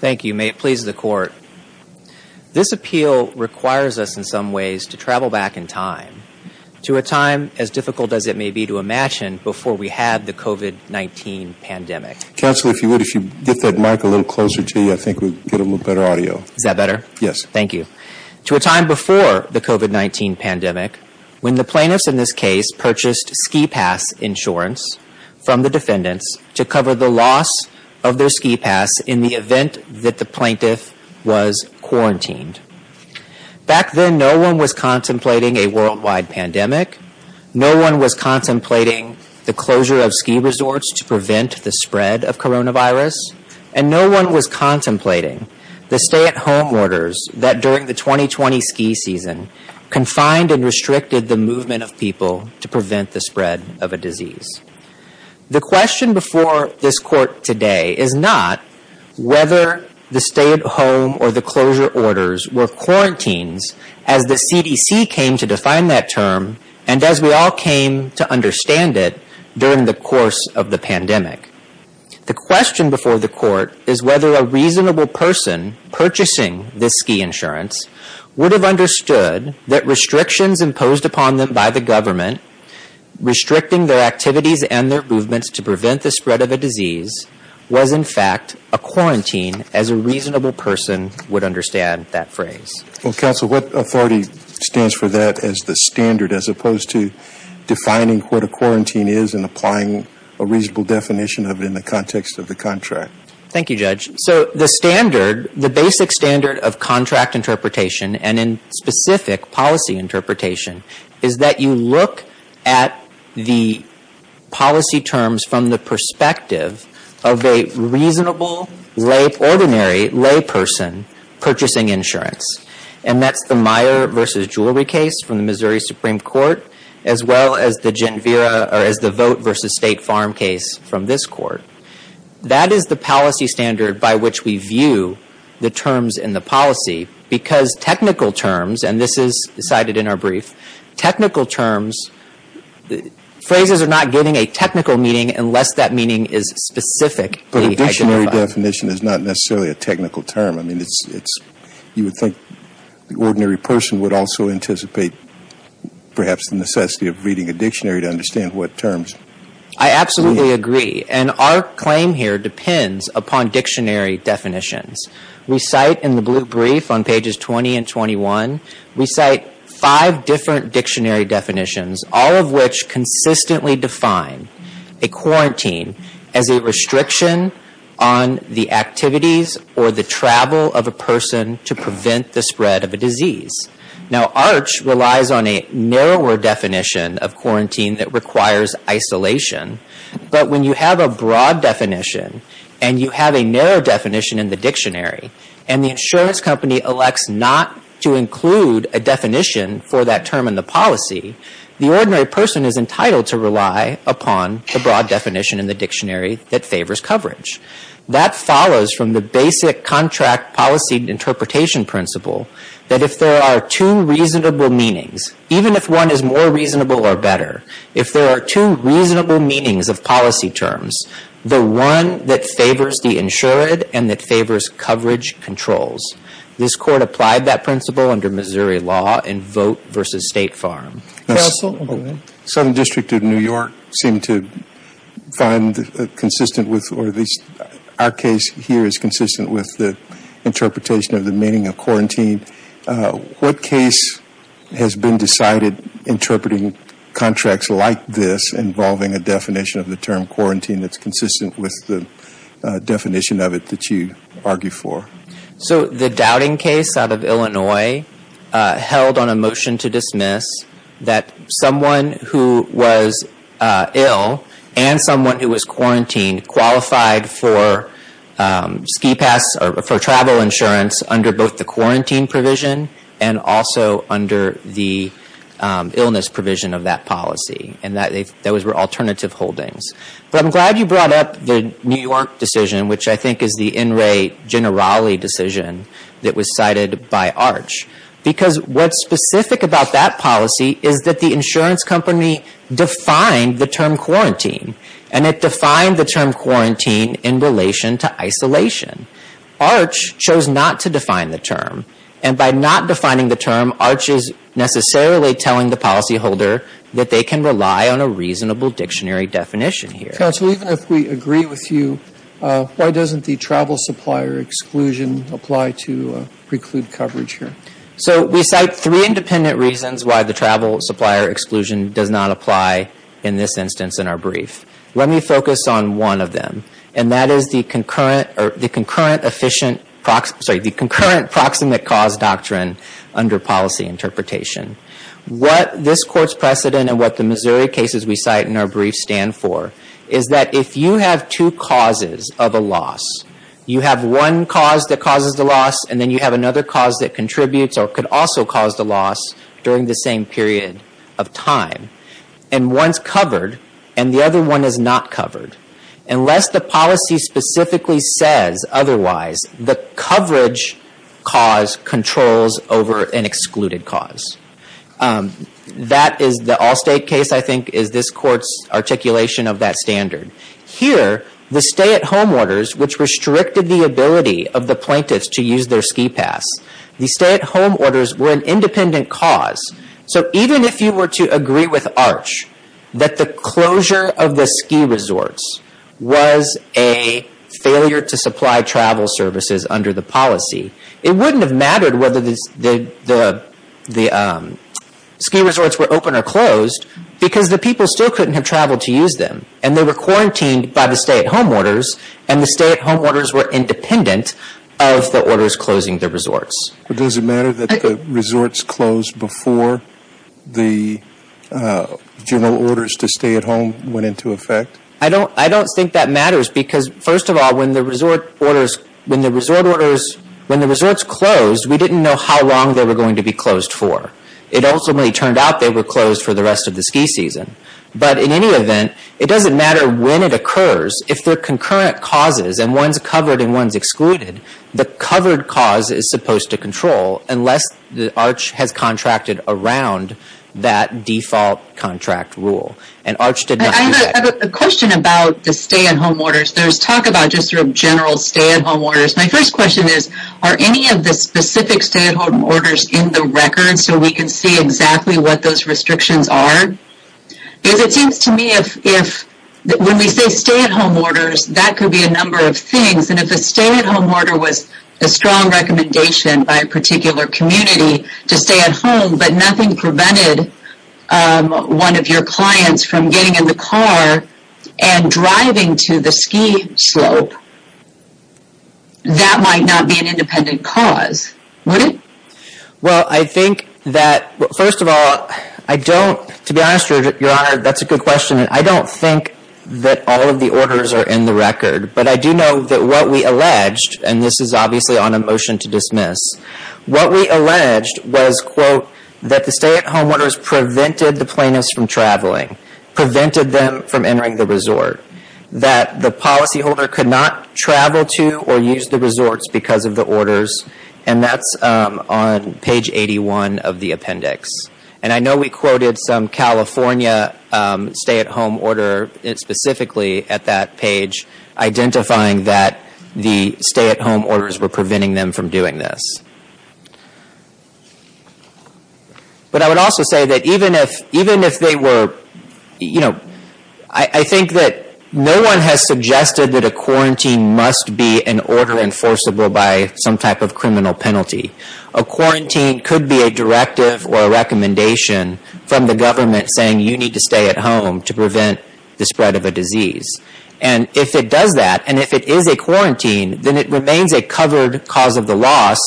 Thank you. May it please the Court. This appeal requires us in some ways to travel back in time to a time as difficult as it may be to imagine before we had the COVID-19 pandemic. To a time before the COVID-19 pandemic, when the plaintiffs in this case purchased ski pass insurance from the defendants to cover the loss of their ski pass in the event that the plaintiff was quarantined. Back then, no one was contemplating a worldwide pandemic. No one was contemplating the closure of ski resorts to prevent the spread of coronavirus. And no one was contemplating the stay-at-home orders that during the 2020 ski season confined and restricted the movement of people to prevent the spread of a disease. The question before this Court today is not whether the stay-at-home or the closure orders were quarantines as the CDC came to define that term and as we all came to understand it during the course of the pandemic. The question before the Court is whether a reasonable person purchasing this ski insurance would have understood that restrictions imposed upon them by the government restricting their activities and their movements to prevent the spread of a disease was in fact a quarantine as a reasonable person would understand that phrase. Counsel, what authority stands for that as the standard as opposed to defining what a quarantine is and applying a reasonable definition of it in the context of the contract? Thank you, Judge. So the standard, the basic standard of contract interpretation and in specific policy interpretation is that you look at the policy terms from the perspective of a reasonable lay, ordinary lay person purchasing insurance. And that's the Meijer versus Jewelry case from the Missouri Supreme Court as well as the Genvira or as the Vote versus State Farm case from this Court. That is the policy standard by which we view the terms in the policy because technical terms, and this is decided in our brief, technical terms, phrases are not getting a technical meaning unless that meaning is specific. But a dictionary definition is not necessarily a technical term. I mean, you would think the ordinary person would also anticipate perhaps the necessity of reading a dictionary to understand what terms. I absolutely agree. And our claim here depends upon dictionary definitions. We cite in the brief on pages 20 and 21, we cite five different dictionary definitions, all of which consistently define a quarantine as a restriction on the activities or the travel of a person to prevent the spread of a disease. Now, ARCH relies on a narrower definition of quarantine that requires isolation. But when you have a broad definition and you have a narrow definition in the dictionary and the insurance company elects not to include a definition for that term in the policy, the ordinary person is entitled to rely upon the broad definition in the dictionary that favors coverage. That follows from the basic contract policy interpretation principle that if there are two reasonable meanings, even if one is more reasonable or better, if there are two reasonable meanings of policy terms, the one that favors the insured and that favors coverage controls. This Court applied that principle under Missouri law in Vote versus State Farm. Southern District of New York seemed to find consistent with, or at least our case here is consistent with the interpretation of the meaning of quarantine. What case has been decided interpreting contracts like this involving a definition of the term quarantine that's consistent with the definition of it that you argue for? So the doubting case out of Illinois held on a motion to dismiss that someone who was ill and someone who was quarantined qualified for ski pass or for travel insurance under both the quarantine provision and also under the illness provision of that policy. And those were alternative holdings. But I'm glad you brought up the New York decision, which I think is the in re generale decision that was cited by Arch. Because what's specific about that policy is that the insurance company defined the term quarantine. And it defined the term quarantine in relation to isolation. Arch chose not to define the term. And by not defining the term, Arch is necessarily telling the policyholder that they can rely on a reasonable dictionary definition here. Counsel, even if we agree with you, why doesn't the travel supplier exclusion apply to preclude coverage here? So we cite three independent reasons why the travel supplier exclusion does not apply in this instance in our brief. Let me focus on one of them. And that is the concurrent proximate cause doctrine under policy interpretation. What this court's precedent and what the Missouri cases we cite in our brief stand for is that if you have two causes of a loss, you have one cause that causes the loss and then you have another cause that contributes or could also cause the loss during the same period of time. And one's covered and the other one is not covered. Unless the policy specifically says otherwise, the coverage cause controls over an excluded cause. That is the Allstate case I think is this court's articulation of that standard. Here, the stay-at-home orders, which restricted the ability of the plaintiffs to use their ski pass, the stay-at-home orders were an independent cause. So even if you were to agree with Arch that the closure of the ski resorts was a failure to supply travel services under the policy, it wouldn't have mattered whether the ski resorts were open or closed because the people still couldn't have traveled to use them. They were quarantined by the stay-at-home orders and the stay-at-home orders were independent of the orders closing the resorts. But does it matter that the resorts closed before the general orders to stay at home went into effect? I don't think that matters because first of all, when the resort orders closed, we didn't know how long they were going to be closed for. It ultimately turned out they were closed for the rest of the ski season. But in any event, it doesn't matter when it occurs. If they're concurrent causes and one's covered and one's excluded, the covered cause is supposed to control unless Arch has contracted around that default contract rule. And Arch did not do that. I have a question about the stay-at-home orders. There's talk about just general stay-at-home orders. My first question is, are any of the specific stay-at-home orders in the record so we can see exactly what those restrictions are? Because it seems to me that when we say stay-at-home orders, that could be a number of things. And if a stay-at-home order was a strong recommendation by a particular community to stay at home, but nothing prevented one of your clients from getting in the car and driving to the ski slope, that might not be an independent cause, would it? Well, I think that, first of all, I don't, to be honest, Your Honor, that's a good question. I don't think that all of the orders are in the record. But I do know that what we alleged, and this is obviously on a motion to dismiss, what we alleged was, quote, that the stay-at-home orders prevented the plaintiffs from traveling, prevented them from entering the resort, that the policyholder could not travel to or use the resorts because of the orders. And that's on page 81 of the appendix. And I know we quoted some California stay-at-home order specifically at that page, identifying that the stay-at-home orders were preventing them from doing this. But I would also say that even if they were, you know, I think that no one has suggested that a quarantine must be an order enforceable by some type of criminal penalty. A quarantine could be a directive or a recommendation from the government saying you need to stay at home to prevent the spread of a disease. And if it does that, and if it is a quarantine, then it remains a covered cause of the loss,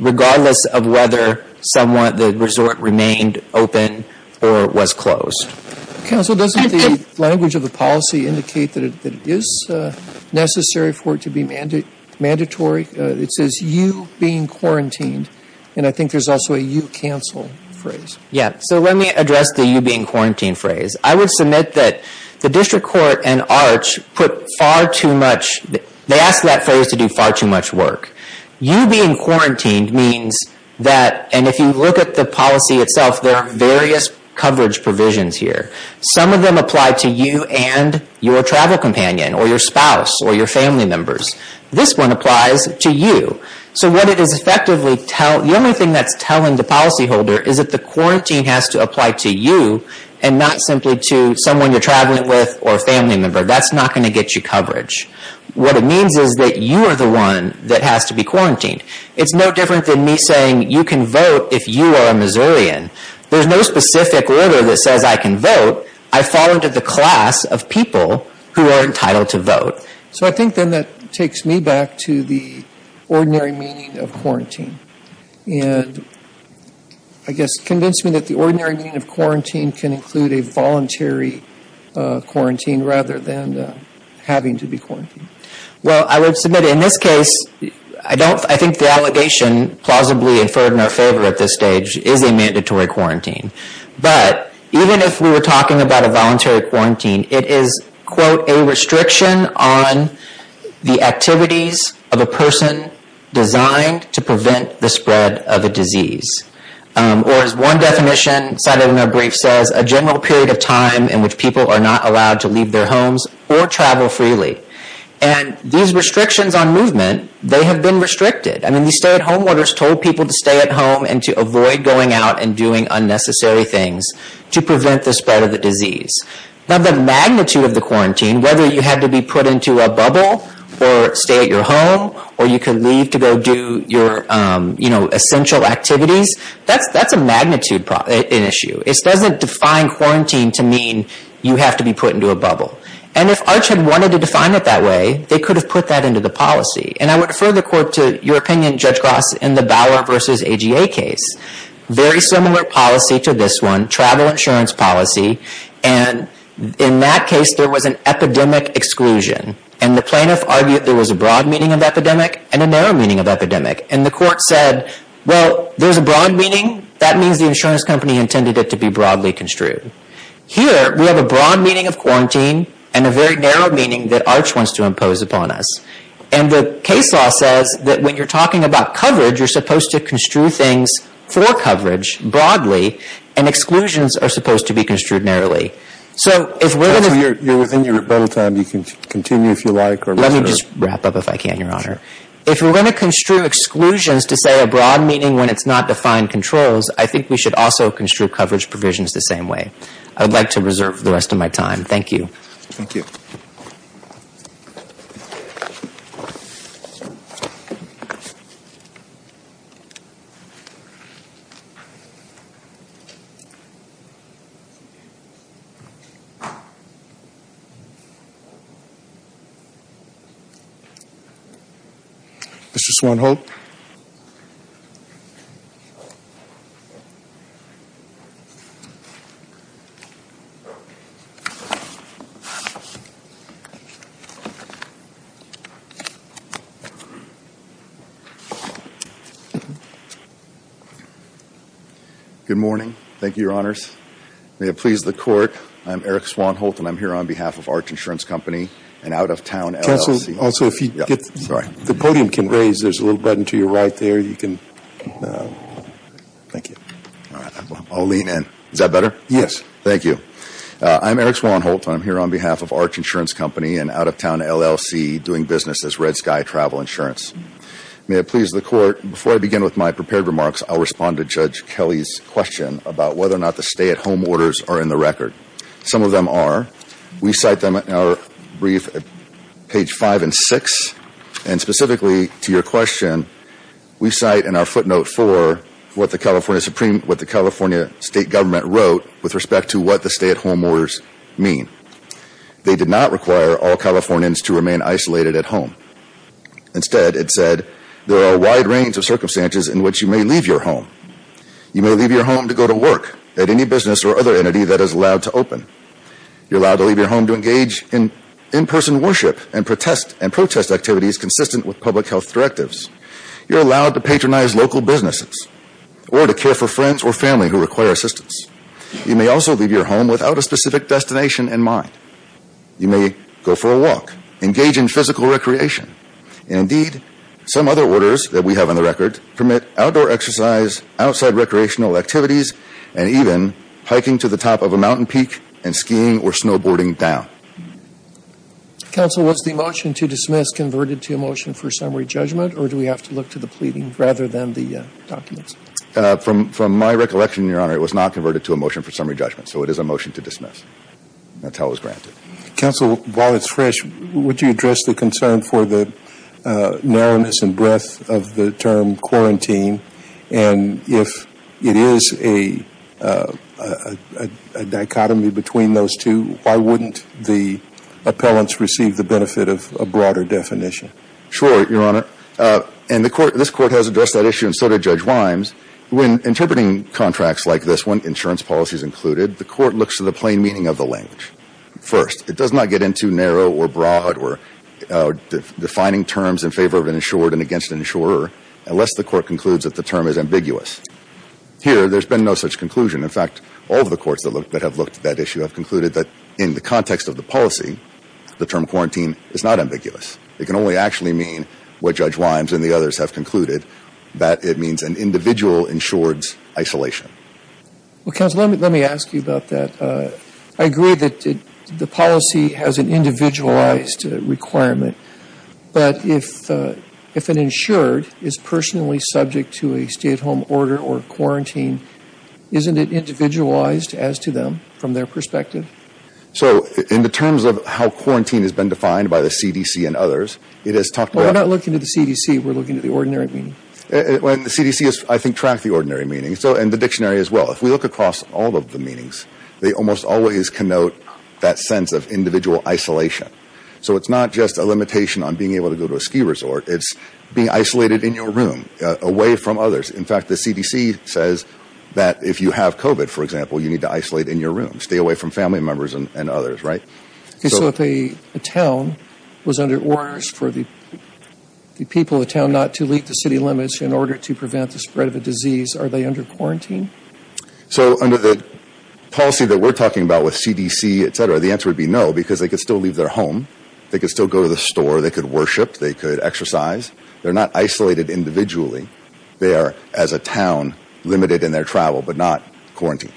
regardless of whether the resort remained open or was closed. Counsel, doesn't the language of the policy indicate that it is necessary for it to be mandatory? It says you being quarantined, and I think there's also a you cancel phrase. Yeah. So let me address the you being quarantined phrase. I would submit that the district court and ARCH put far too much, they asked that phrase to do far too much work. You being quarantined means that, and if you look at the policy itself, there are various coverage provisions here. Some of them apply to you and your travel companion or your spouse or your family members. This one applies to you. So what it is effectively telling, the only thing that's telling the policyholder is that the quarantine has to apply to you and not simply to someone you're traveling with or a family member. That's not going to get you coverage. What it means is that you are the one that has to be quarantined. It's no different than me saying you can vote if you are a Missourian. There's no specific order that says I can vote. I fall into the class of people who are entitled to vote. So I think then that takes me back to the ordinary meaning of quarantine. And I guess convince me that the ordinary meaning of quarantine can include a voluntary quarantine rather than having to be quarantined. Well, I would submit in this case, I think the allegation plausibly inferred in our favor at this stage is a mandatory quarantine. But even if we were talking about a voluntary quarantine, it is, quote, a restriction on the activities of a person designed to prevent the spread of a disease. Or as one definition cited in our brief says, a general period of time in which people are not allowed to leave their homes or travel freely. And these restrictions on movement, they have been restricted. I mean, these stay-at-home orders told people to stay at home and to avoid going out and doing unnecessary things to prevent the spread of the disease. Now, the magnitude of the quarantine, whether you had to be put into a bubble or stay at your home or you could leave to go do your essential activities, that's a magnitude issue. It doesn't define quarantine to mean you have to be put into a bubble. And if ARCH had wanted to define it that way, they could have put that into the policy. And I would defer the court to your opinion, Judge Gross, in the Bauer v. AGA case. Very similar policy to this one, travel insurance policy. And in that case, there was an epidemic exclusion. And the plaintiff argued there was a broad meaning of epidemic and a narrow meaning of epidemic. And the court said, well, there's a broad meaning. That means the insurance company intended it to be broadly construed. Here, we have a broad meaning of quarantine and a very narrow meaning that ARCH wants to impose upon us. And the case law says that when you're talking about coverage, you're supposed to construe things for coverage broadly. And exclusions are supposed to be construed narrowly. So, if we're going to... Judge, you're within your battle time. You can continue if you like. Let me just wrap up if I can, Your Honor. If we're going to construe exclusions to say a broad meaning when it's not defined controls, I think we should also construe coverage provisions the same way. I would like to reserve the rest of my time. Thank you. Thank you. Thank you. Mr. Swanholt. Good morning. Thank you, Your Honors. May it please the court. I'm Eric Swanholt, and I'm here on behalf of ARCH Insurance Company, an out-of-town LLC. Counsel, also, if you could... Sorry. The podium can raise. There's a little button to your right there. You can... Thank you. All right. I'll lean in. Is that better? Yes. I'm Eric Swanholt, and I'm here on behalf of ARCH Insurance Company, an out-of-town LLC doing business as Red Sky Travel Insurance. May it please the court. Before I begin with my prepared remarks, I'll respond to Judge Kelly's question about whether or not the stay-at-home orders are in the record. Some of them are. We cite them in our brief at page 5 and 6. And specifically to your question, we cite in our footnote 4 what the California State Government wrote with respect to what the stay-at-home orders mean. They did not require all Californians to remain isolated at home. Instead, it said, there are a wide range of circumstances in which you may leave your home. You may leave your home to go to work at any business or other entity that is allowed to open. You're allowed to leave your home to engage in in-person worship and protest activities consistent with public health directives. You're allowed to patronize local businesses or to care for friends or family who require assistance. You may also leave your home without a specific destination in mind. You may go for a walk, engage in physical recreation. And indeed, some other orders that we have on the record permit outdoor exercise, outside recreational activities, and even hiking to the top of a mountain peak and skiing or snowboarding down. Counsel, was the motion to dismiss converted to a motion for summary judgment, or do we have to look to the pleading rather than the documents? From my recollection, Your Honor, it was not converted to a motion for summary judgment, so it is a motion to dismiss. That's how it was granted. Counsel, while it's fresh, would you address the concern for the narrowness and breadth of the term quarantine? And if it is a dichotomy between those two, why wouldn't the appellants receive the benefit of a broader definition? Sure, Your Honor. And this Court has addressed that issue, and so did Judge Wimes. When interpreting contracts like this one, insurance policies included, the Court looks to the plain meaning of the language. First, it does not get into narrow or broad or defining terms in favor of an insured and against an insurer, unless the Court concludes that the term is ambiguous. Here, there's been no such conclusion. In fact, all of the courts that have looked at that issue have concluded that in the context of the policy, the term quarantine is not ambiguous. It can only actually mean what Judge Wimes and the others have concluded, that it means an individual insured's isolation. Well, Counsel, let me ask you about that. I agree that the policy has an individualized requirement, but if an insured is personally subject to a stay-at-home order or quarantine, isn't it individualized as to them from their perspective? So, in the terms of how quarantine has been defined by the CDC and others, it has talked about… Well, we're not looking at the CDC. We're looking at the ordinary meaning. The CDC has, I think, tracked the ordinary meaning, and the dictionary as well. If we look across all of the meanings, they almost always connote that sense of individual isolation. So, it's not just a limitation on being able to go to a ski resort. It's being isolated in your room, away from others. In fact, the CDC says that if you have COVID, for example, you need to isolate in your room. Stay away from family members and others, right? So, if a town was under orders for the people of the town not to leave the city limits in order to prevent the spread of a disease, are they under quarantine? So, under the policy that we're talking about with CDC, etc., the answer would be no, because they could still leave their home. They could still go to the store. They could worship. They could exercise. They're not isolated individually. They are, as a town, limited in their travel, but not quarantine.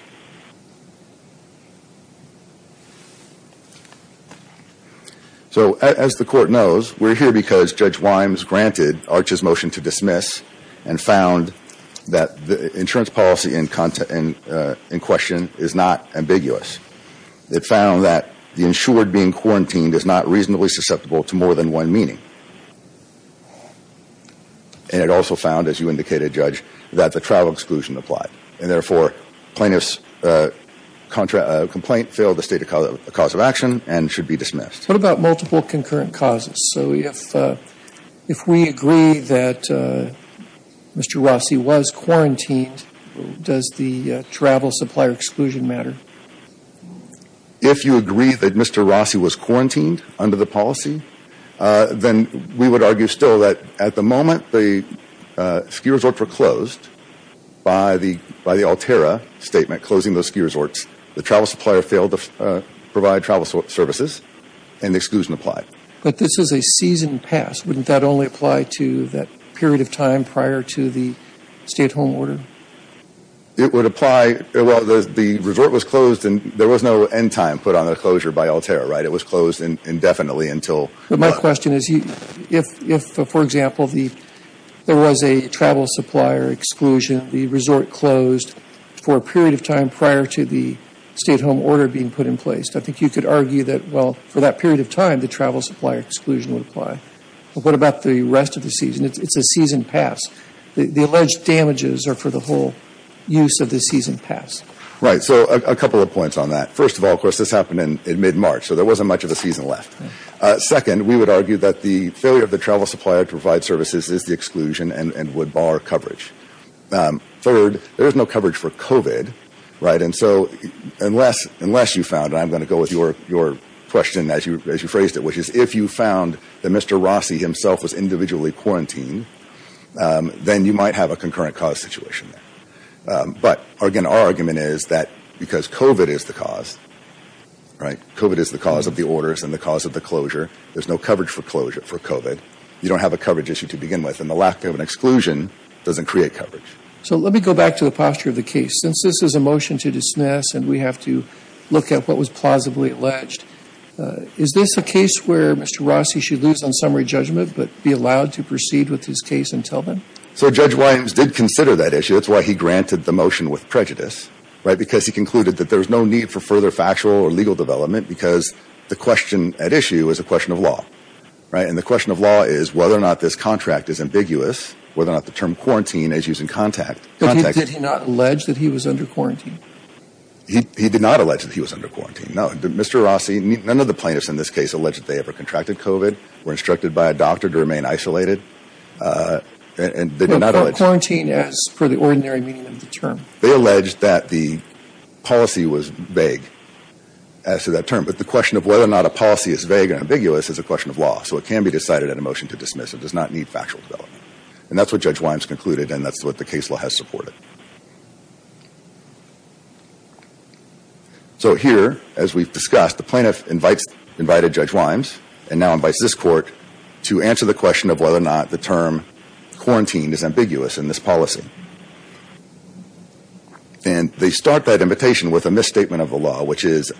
So, as the Court knows, we're here because Judge Wimes granted Arch's motion to dismiss and found that the insurance policy in question is not ambiguous. It found that the insured being quarantined is not reasonably susceptible to more than one meaning. And it also found, as you indicated, Judge, that the travel exclusion applied. And therefore, plaintiff's complaint failed the state of cause of action and should be dismissed. What about multiple concurrent causes? So, if we agree that Mr. Rossi was quarantined, does the travel supplier exclusion matter? If you agree that Mr. Rossi was quarantined under the policy, then we would argue still that, at the moment, the ski resorts were closed by the Altera statement, closing those ski resorts. The travel supplier failed to provide travel services, and the exclusion applied. But this is a season pass. Wouldn't that only apply to that period of time prior to the stay-at-home order? It would apply – well, the resort was closed, and there was no end time put on the closure by Altera, right? It was closed indefinitely until – But my question is, if, for example, there was a travel supplier exclusion, the resort closed for a period of time prior to the stay-at-home order being put in place, I think you could argue that, well, for that period of time, the travel supplier exclusion would apply. But what about the rest of the season? It's a season pass. The alleged damages are for the whole use of the season pass. Right. So a couple of points on that. First of all, of course, this happened in mid-March, so there wasn't much of a season left. Second, we would argue that the failure of the travel supplier to provide services is the exclusion and would bar coverage. Third, there is no coverage for COVID, right? And so unless you found – and I'm going to go with your question as you phrased it, which is if you found that Mr. Rossi himself was individually quarantined, then you might have a concurrent cause situation. But, again, our argument is that because COVID is the cause, right? COVID is the cause of the orders and the cause of the closure. There's no coverage for closure for COVID. You don't have a coverage issue to begin with, and the lack of an exclusion doesn't create coverage. So let me go back to the posture of the case. Since this is a motion to dismiss and we have to look at what was plausibly alleged, is this a case where Mr. Rossi should lose on summary judgment but be allowed to proceed with his case until then? So Judge Williams did consider that issue. That's why he granted the motion with prejudice, right? Because he concluded that there's no need for further factual or legal development because the question at issue is a question of law, right? And the question of law is whether or not this contract is ambiguous, whether or not the term quarantine is used in context. But did he not allege that he was under quarantine? He did not allege that he was under quarantine, no. Mr. Rossi, none of the plaintiffs in this case allege that they ever contracted COVID, were instructed by a doctor to remain isolated, and they did not allege. Quarantine as for the ordinary meaning of the term. They allege that the policy was vague as to that term. But the question of whether or not a policy is vague or ambiguous is a question of law. And they decided in a motion to dismiss. It does not need factual development. And that's what Judge Williams concluded, and that's what the case law has supported. So here, as we've discussed, the plaintiff invites, invited Judge Williams, and now invites this Court to answer the question of whether or not the term quarantine is ambiguous in this policy. And they start that invitation with a misstatement of the law, which is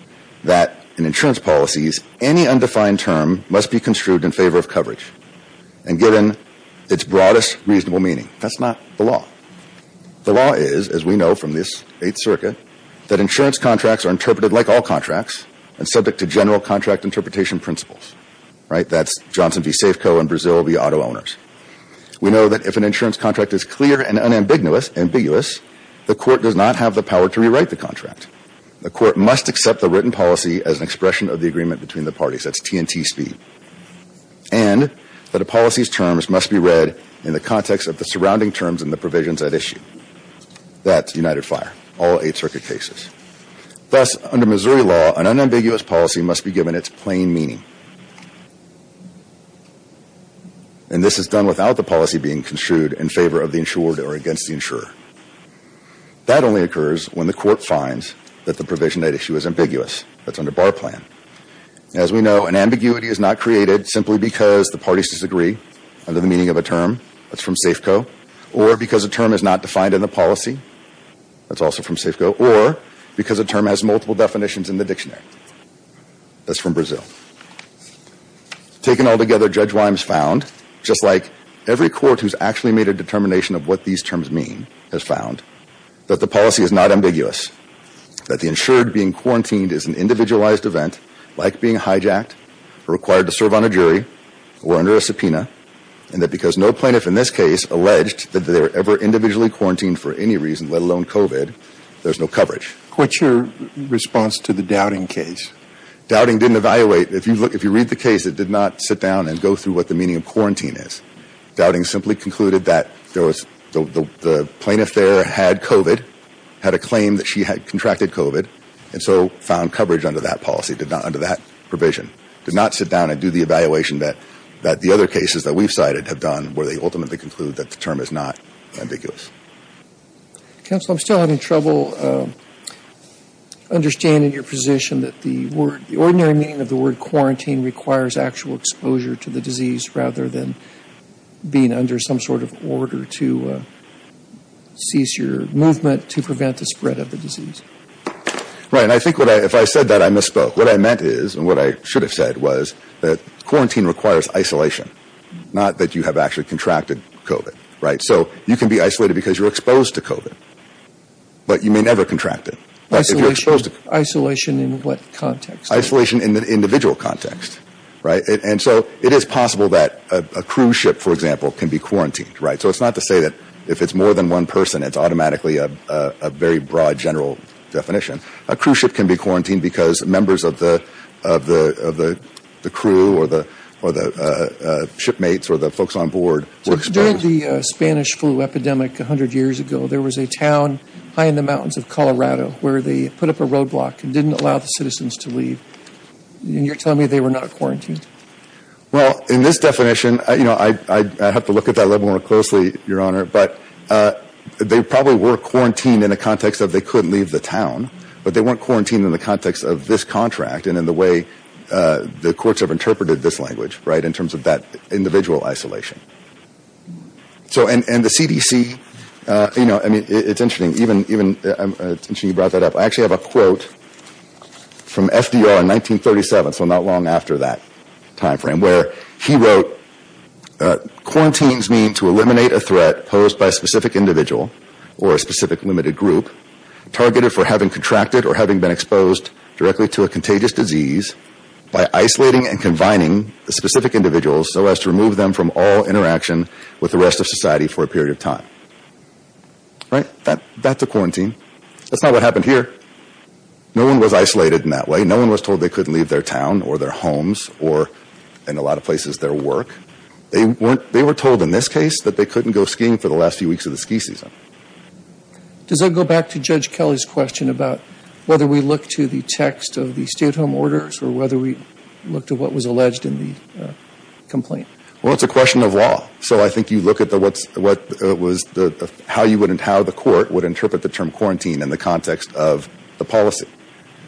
that in insurance policies, any undefined term must be construed in favor of coverage. And given its broadest reasonable meaning, that's not the law. The law is, as we know from this Eighth Circuit, that insurance contracts are interpreted like all contracts and subject to general contract interpretation principles. Right? That's Johnson v. Safeco and Brazil v. Auto Owners. We know that if an insurance contract is clear and unambiguous, the Court does not have the power to rewrite the contract. The Court must accept the written policy as an expression of the agreement between the parties. That's TNT speed. And that a policy's terms must be read in the context of the surrounding terms and the provisions at issue. That's United Fire, all Eighth Circuit cases. Thus, under Missouri law, an unambiguous policy must be given its plain meaning. And this is done without the policy being construed in favor of the insured or against the insurer. That only occurs when the Court finds that the provision at issue is ambiguous. That's under Bar Plan. As we know, an ambiguity is not created simply because the parties disagree under the meaning of a term. That's from Safeco. Or because a term is not defined in the policy. That's also from Safeco. Or because a term has multiple definitions in the dictionary. That's from Brazil. Taken all together, Judge Wimes found, just like every court who's actually made a determination of what these terms mean, has found that the policy is not ambiguous. That the insured being quarantined is an individualized event, like being hijacked or required to serve on a jury or under a subpoena. And that because no plaintiff in this case alleged that they were ever individually quarantined for any reason, let alone COVID, there's no coverage. What's your response to the Dowding case? Dowding didn't evaluate. If you read the case, it did not sit down and go through what the meaning of quarantine is. Dowding simply concluded that there was, the plaintiff there had COVID, had a claim that she had contracted COVID, and so found coverage under that policy, under that provision. Did not sit down and do the evaluation that the other cases that we've cited have done, where they ultimately conclude that the term is not ambiguous. Counsel, I'm still having trouble understanding your position that the word, being under some sort of order to cease your movement to prevent the spread of the disease. Right, and I think if I said that, I misspoke. What I meant is, and what I should have said was, that quarantine requires isolation. Not that you have actually contracted COVID. So you can be isolated because you're exposed to COVID. But you may never contract it. Isolation in what context? Isolation in the individual context. Right, and so it is possible that a cruise ship, for example, can be quarantined. Right, so it's not to say that if it's more than one person, it's automatically a very broad general definition. A cruise ship can be quarantined because members of the crew or the shipmates or the folks on board were exposed. During the Spanish flu epidemic 100 years ago, there was a town high in the mountains of Colorado where they put up a roadblock and didn't allow the citizens to leave. And you're telling me they were not quarantined? Well, in this definition, you know, I have to look at that level more closely, Your Honor. But they probably were quarantined in a context of they couldn't leave the town. But they weren't quarantined in the context of this contract and in the way the courts have interpreted this language, right, in terms of that individual isolation. So, and the CDC, you know, I mean, it's interesting. Even, you brought that up. I actually have a quote from FDR in 1937, so not long after that timeframe, where he wrote, Quarantines mean to eliminate a threat posed by a specific individual or a specific limited group, targeted for having contracted or having been exposed directly to a contagious disease by isolating and combining the specific individuals so as to remove them from all interaction with the rest of society for a period of time. Right, that's a quarantine. That's not what happened here. No one was isolated in that way. No one was told they couldn't leave their town or their homes or, in a lot of places, their work. They weren't, they were told in this case that they couldn't go skiing for the last few weeks of the ski season. Does that go back to Judge Kelly's question about whether we look to the text of the stay-at-home orders or whether we look to what was alleged in the complaint? Well, it's a question of law. So I think you look at the what's, what was the, how you would, how the court would interpret the term quarantine in the context of the policy.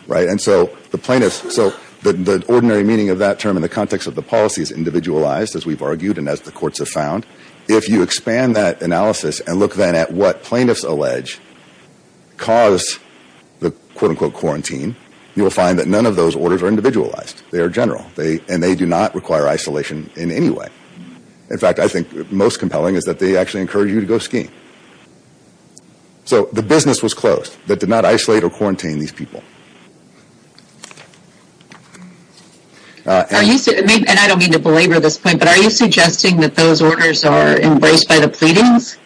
Right, and so the plaintiffs, so the ordinary meaning of that term in the context of the policy is individualized, as we've argued and as the courts have found. If you expand that analysis and look then at what plaintiffs allege cause the quote-unquote quarantine, you will find that none of those orders are individualized. They are general. And they do not require isolation in any way. In fact, I think most compelling is that they actually encourage you to go skiing. So the business was closed that did not isolate or quarantine these people. Are you, and I don't mean to belabor this point, but are you suggesting that those orders are embraced by the pleadings?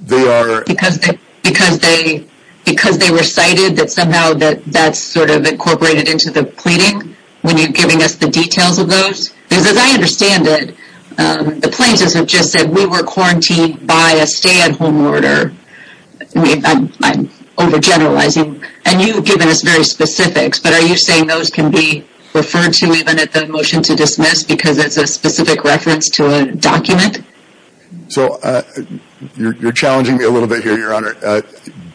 They are. Because they, because they, because they recited that somehow that, that's sort of incorporated into the pleading when you're giving us the details of those? Because as I understand it, the plaintiffs have just said we were quarantined by a stay-at-home order. I'm overgeneralizing. And you've given us very specifics, but are you saying those can be referred to even at the motion to dismiss because it's a specific reference to a document? So you're challenging me a little bit here, Your Honor.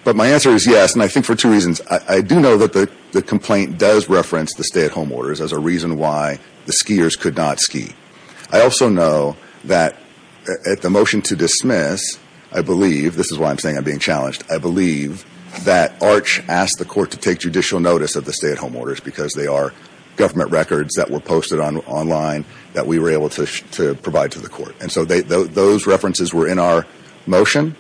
But my answer is yes, and I think for two reasons. I do know that the complaint does reference the stay-at-home orders as a reason why the skiers could not ski. I also know that at the motion to dismiss, I believe, this is why I'm saying I'm being challenged, I believe that Arch asked the court to take judicial notice of the stay-at-home orders because they are government records that were posted online that we were able to provide to the court. And so those references were in our motion,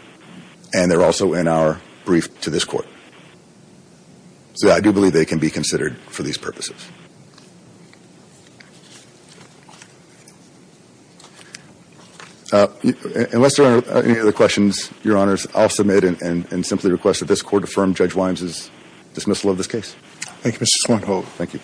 and they're also in our brief to this court. So I do believe they can be considered for these purposes. Unless there are any other questions, Your Honors, I'll submit and simply request that this court affirm Judge Wines' dismissal of this case. Thank you, Mr. Swinho. Thank you.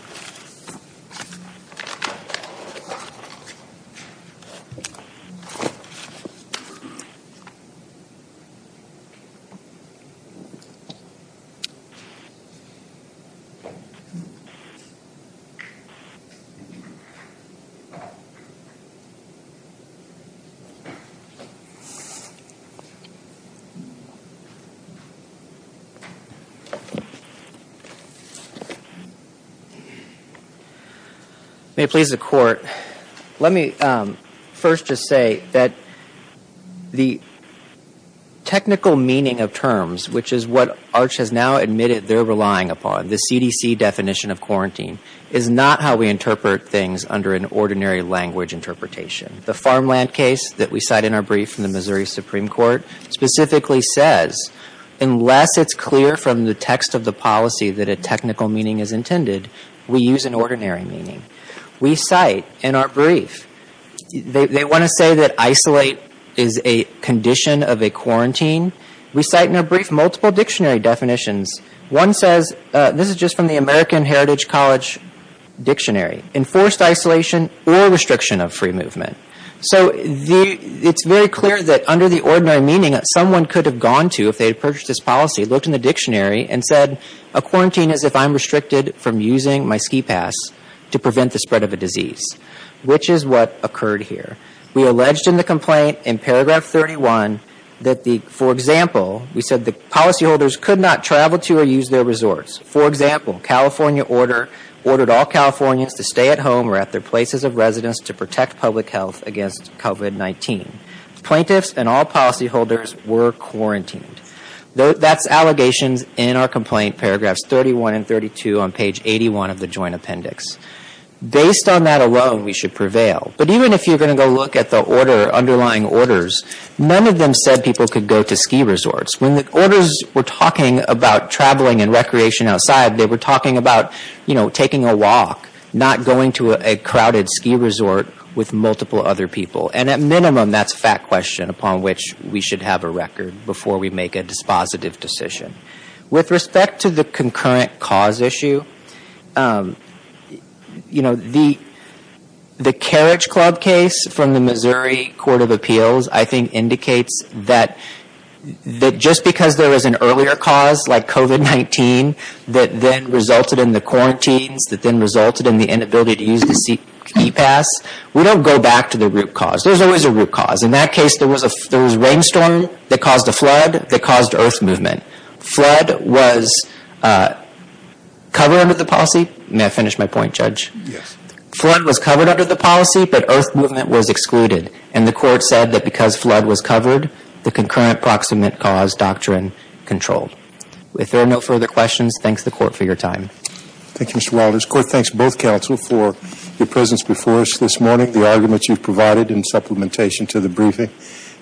May it please the Court, let me first just say that the technical meaning of terms, which is what Arch has now admitted they're relying upon, the CDC definition of quarantine, under the definition of quarantine. It's not how we interpret things under the definition of quarantine. The farmland case that we cite in our brief from the Missouri Supreme Court specifically says unless it's clear from the text of the policy that a technical meaning is intended, we use an ordinary meaning. We cite in our brief, they want to say that isolate is a condition of a quarantine. We cite in our brief multiple dictionary definitions. One says, this is just from the American Heritage College Dictionary, enforced isolation or restriction of free movement. So it's very clear that under the ordinary meaning, someone could have gone to, if they had purchased this policy, looked in the dictionary and said a quarantine is if I'm restricted from using my ski pass to prevent the spread of a disease, which is what occurred here. We alleged in the complaint in paragraph 31 that the, for example, we said the policyholders could not travel to or use their resorts. They could not stay at home or at their places of residence to protect public health against COVID-19. Plaintiffs and all policyholders were quarantined. That's allegations in our complaint, paragraphs 31 and 32 on page 81 of the joint appendix. Based on that alone, we should prevail. But even if you're going to go look at the order, underlying orders, none of them said people could go to ski resorts. You're going to a crowded ski resort with multiple other people. And at minimum, that's a fact question upon which we should have a record before we make a dispositive decision. With respect to the concurrent cause issue, you know, the, the Carriage Club case from the Missouri Court of Appeals I think indicates that, that just because there was an earlier cause like COVID-19 that then resulted in the quarantines, that then resulted in the inability to use the e-pass, we don't go back to the root cause. There's always a root cause. In that case, there was a, there was a rainstorm that caused a flood that caused earth movement. Flood was covered under the policy. May I finish my point, Judge? Yes. Flood was covered under the policy, but earth movement was excluded. And the court said that because flood was covered, the concurrent proximate cause doctrine controlled. If there are no further questions, thanks to the court for your time. Thank you, Mr. Walters. Court, thanks both counsel for your presence before us this morning, the arguments you've provided in supplementation to the briefing,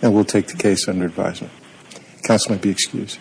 and we'll take the case under advisement. Counsel might be excused.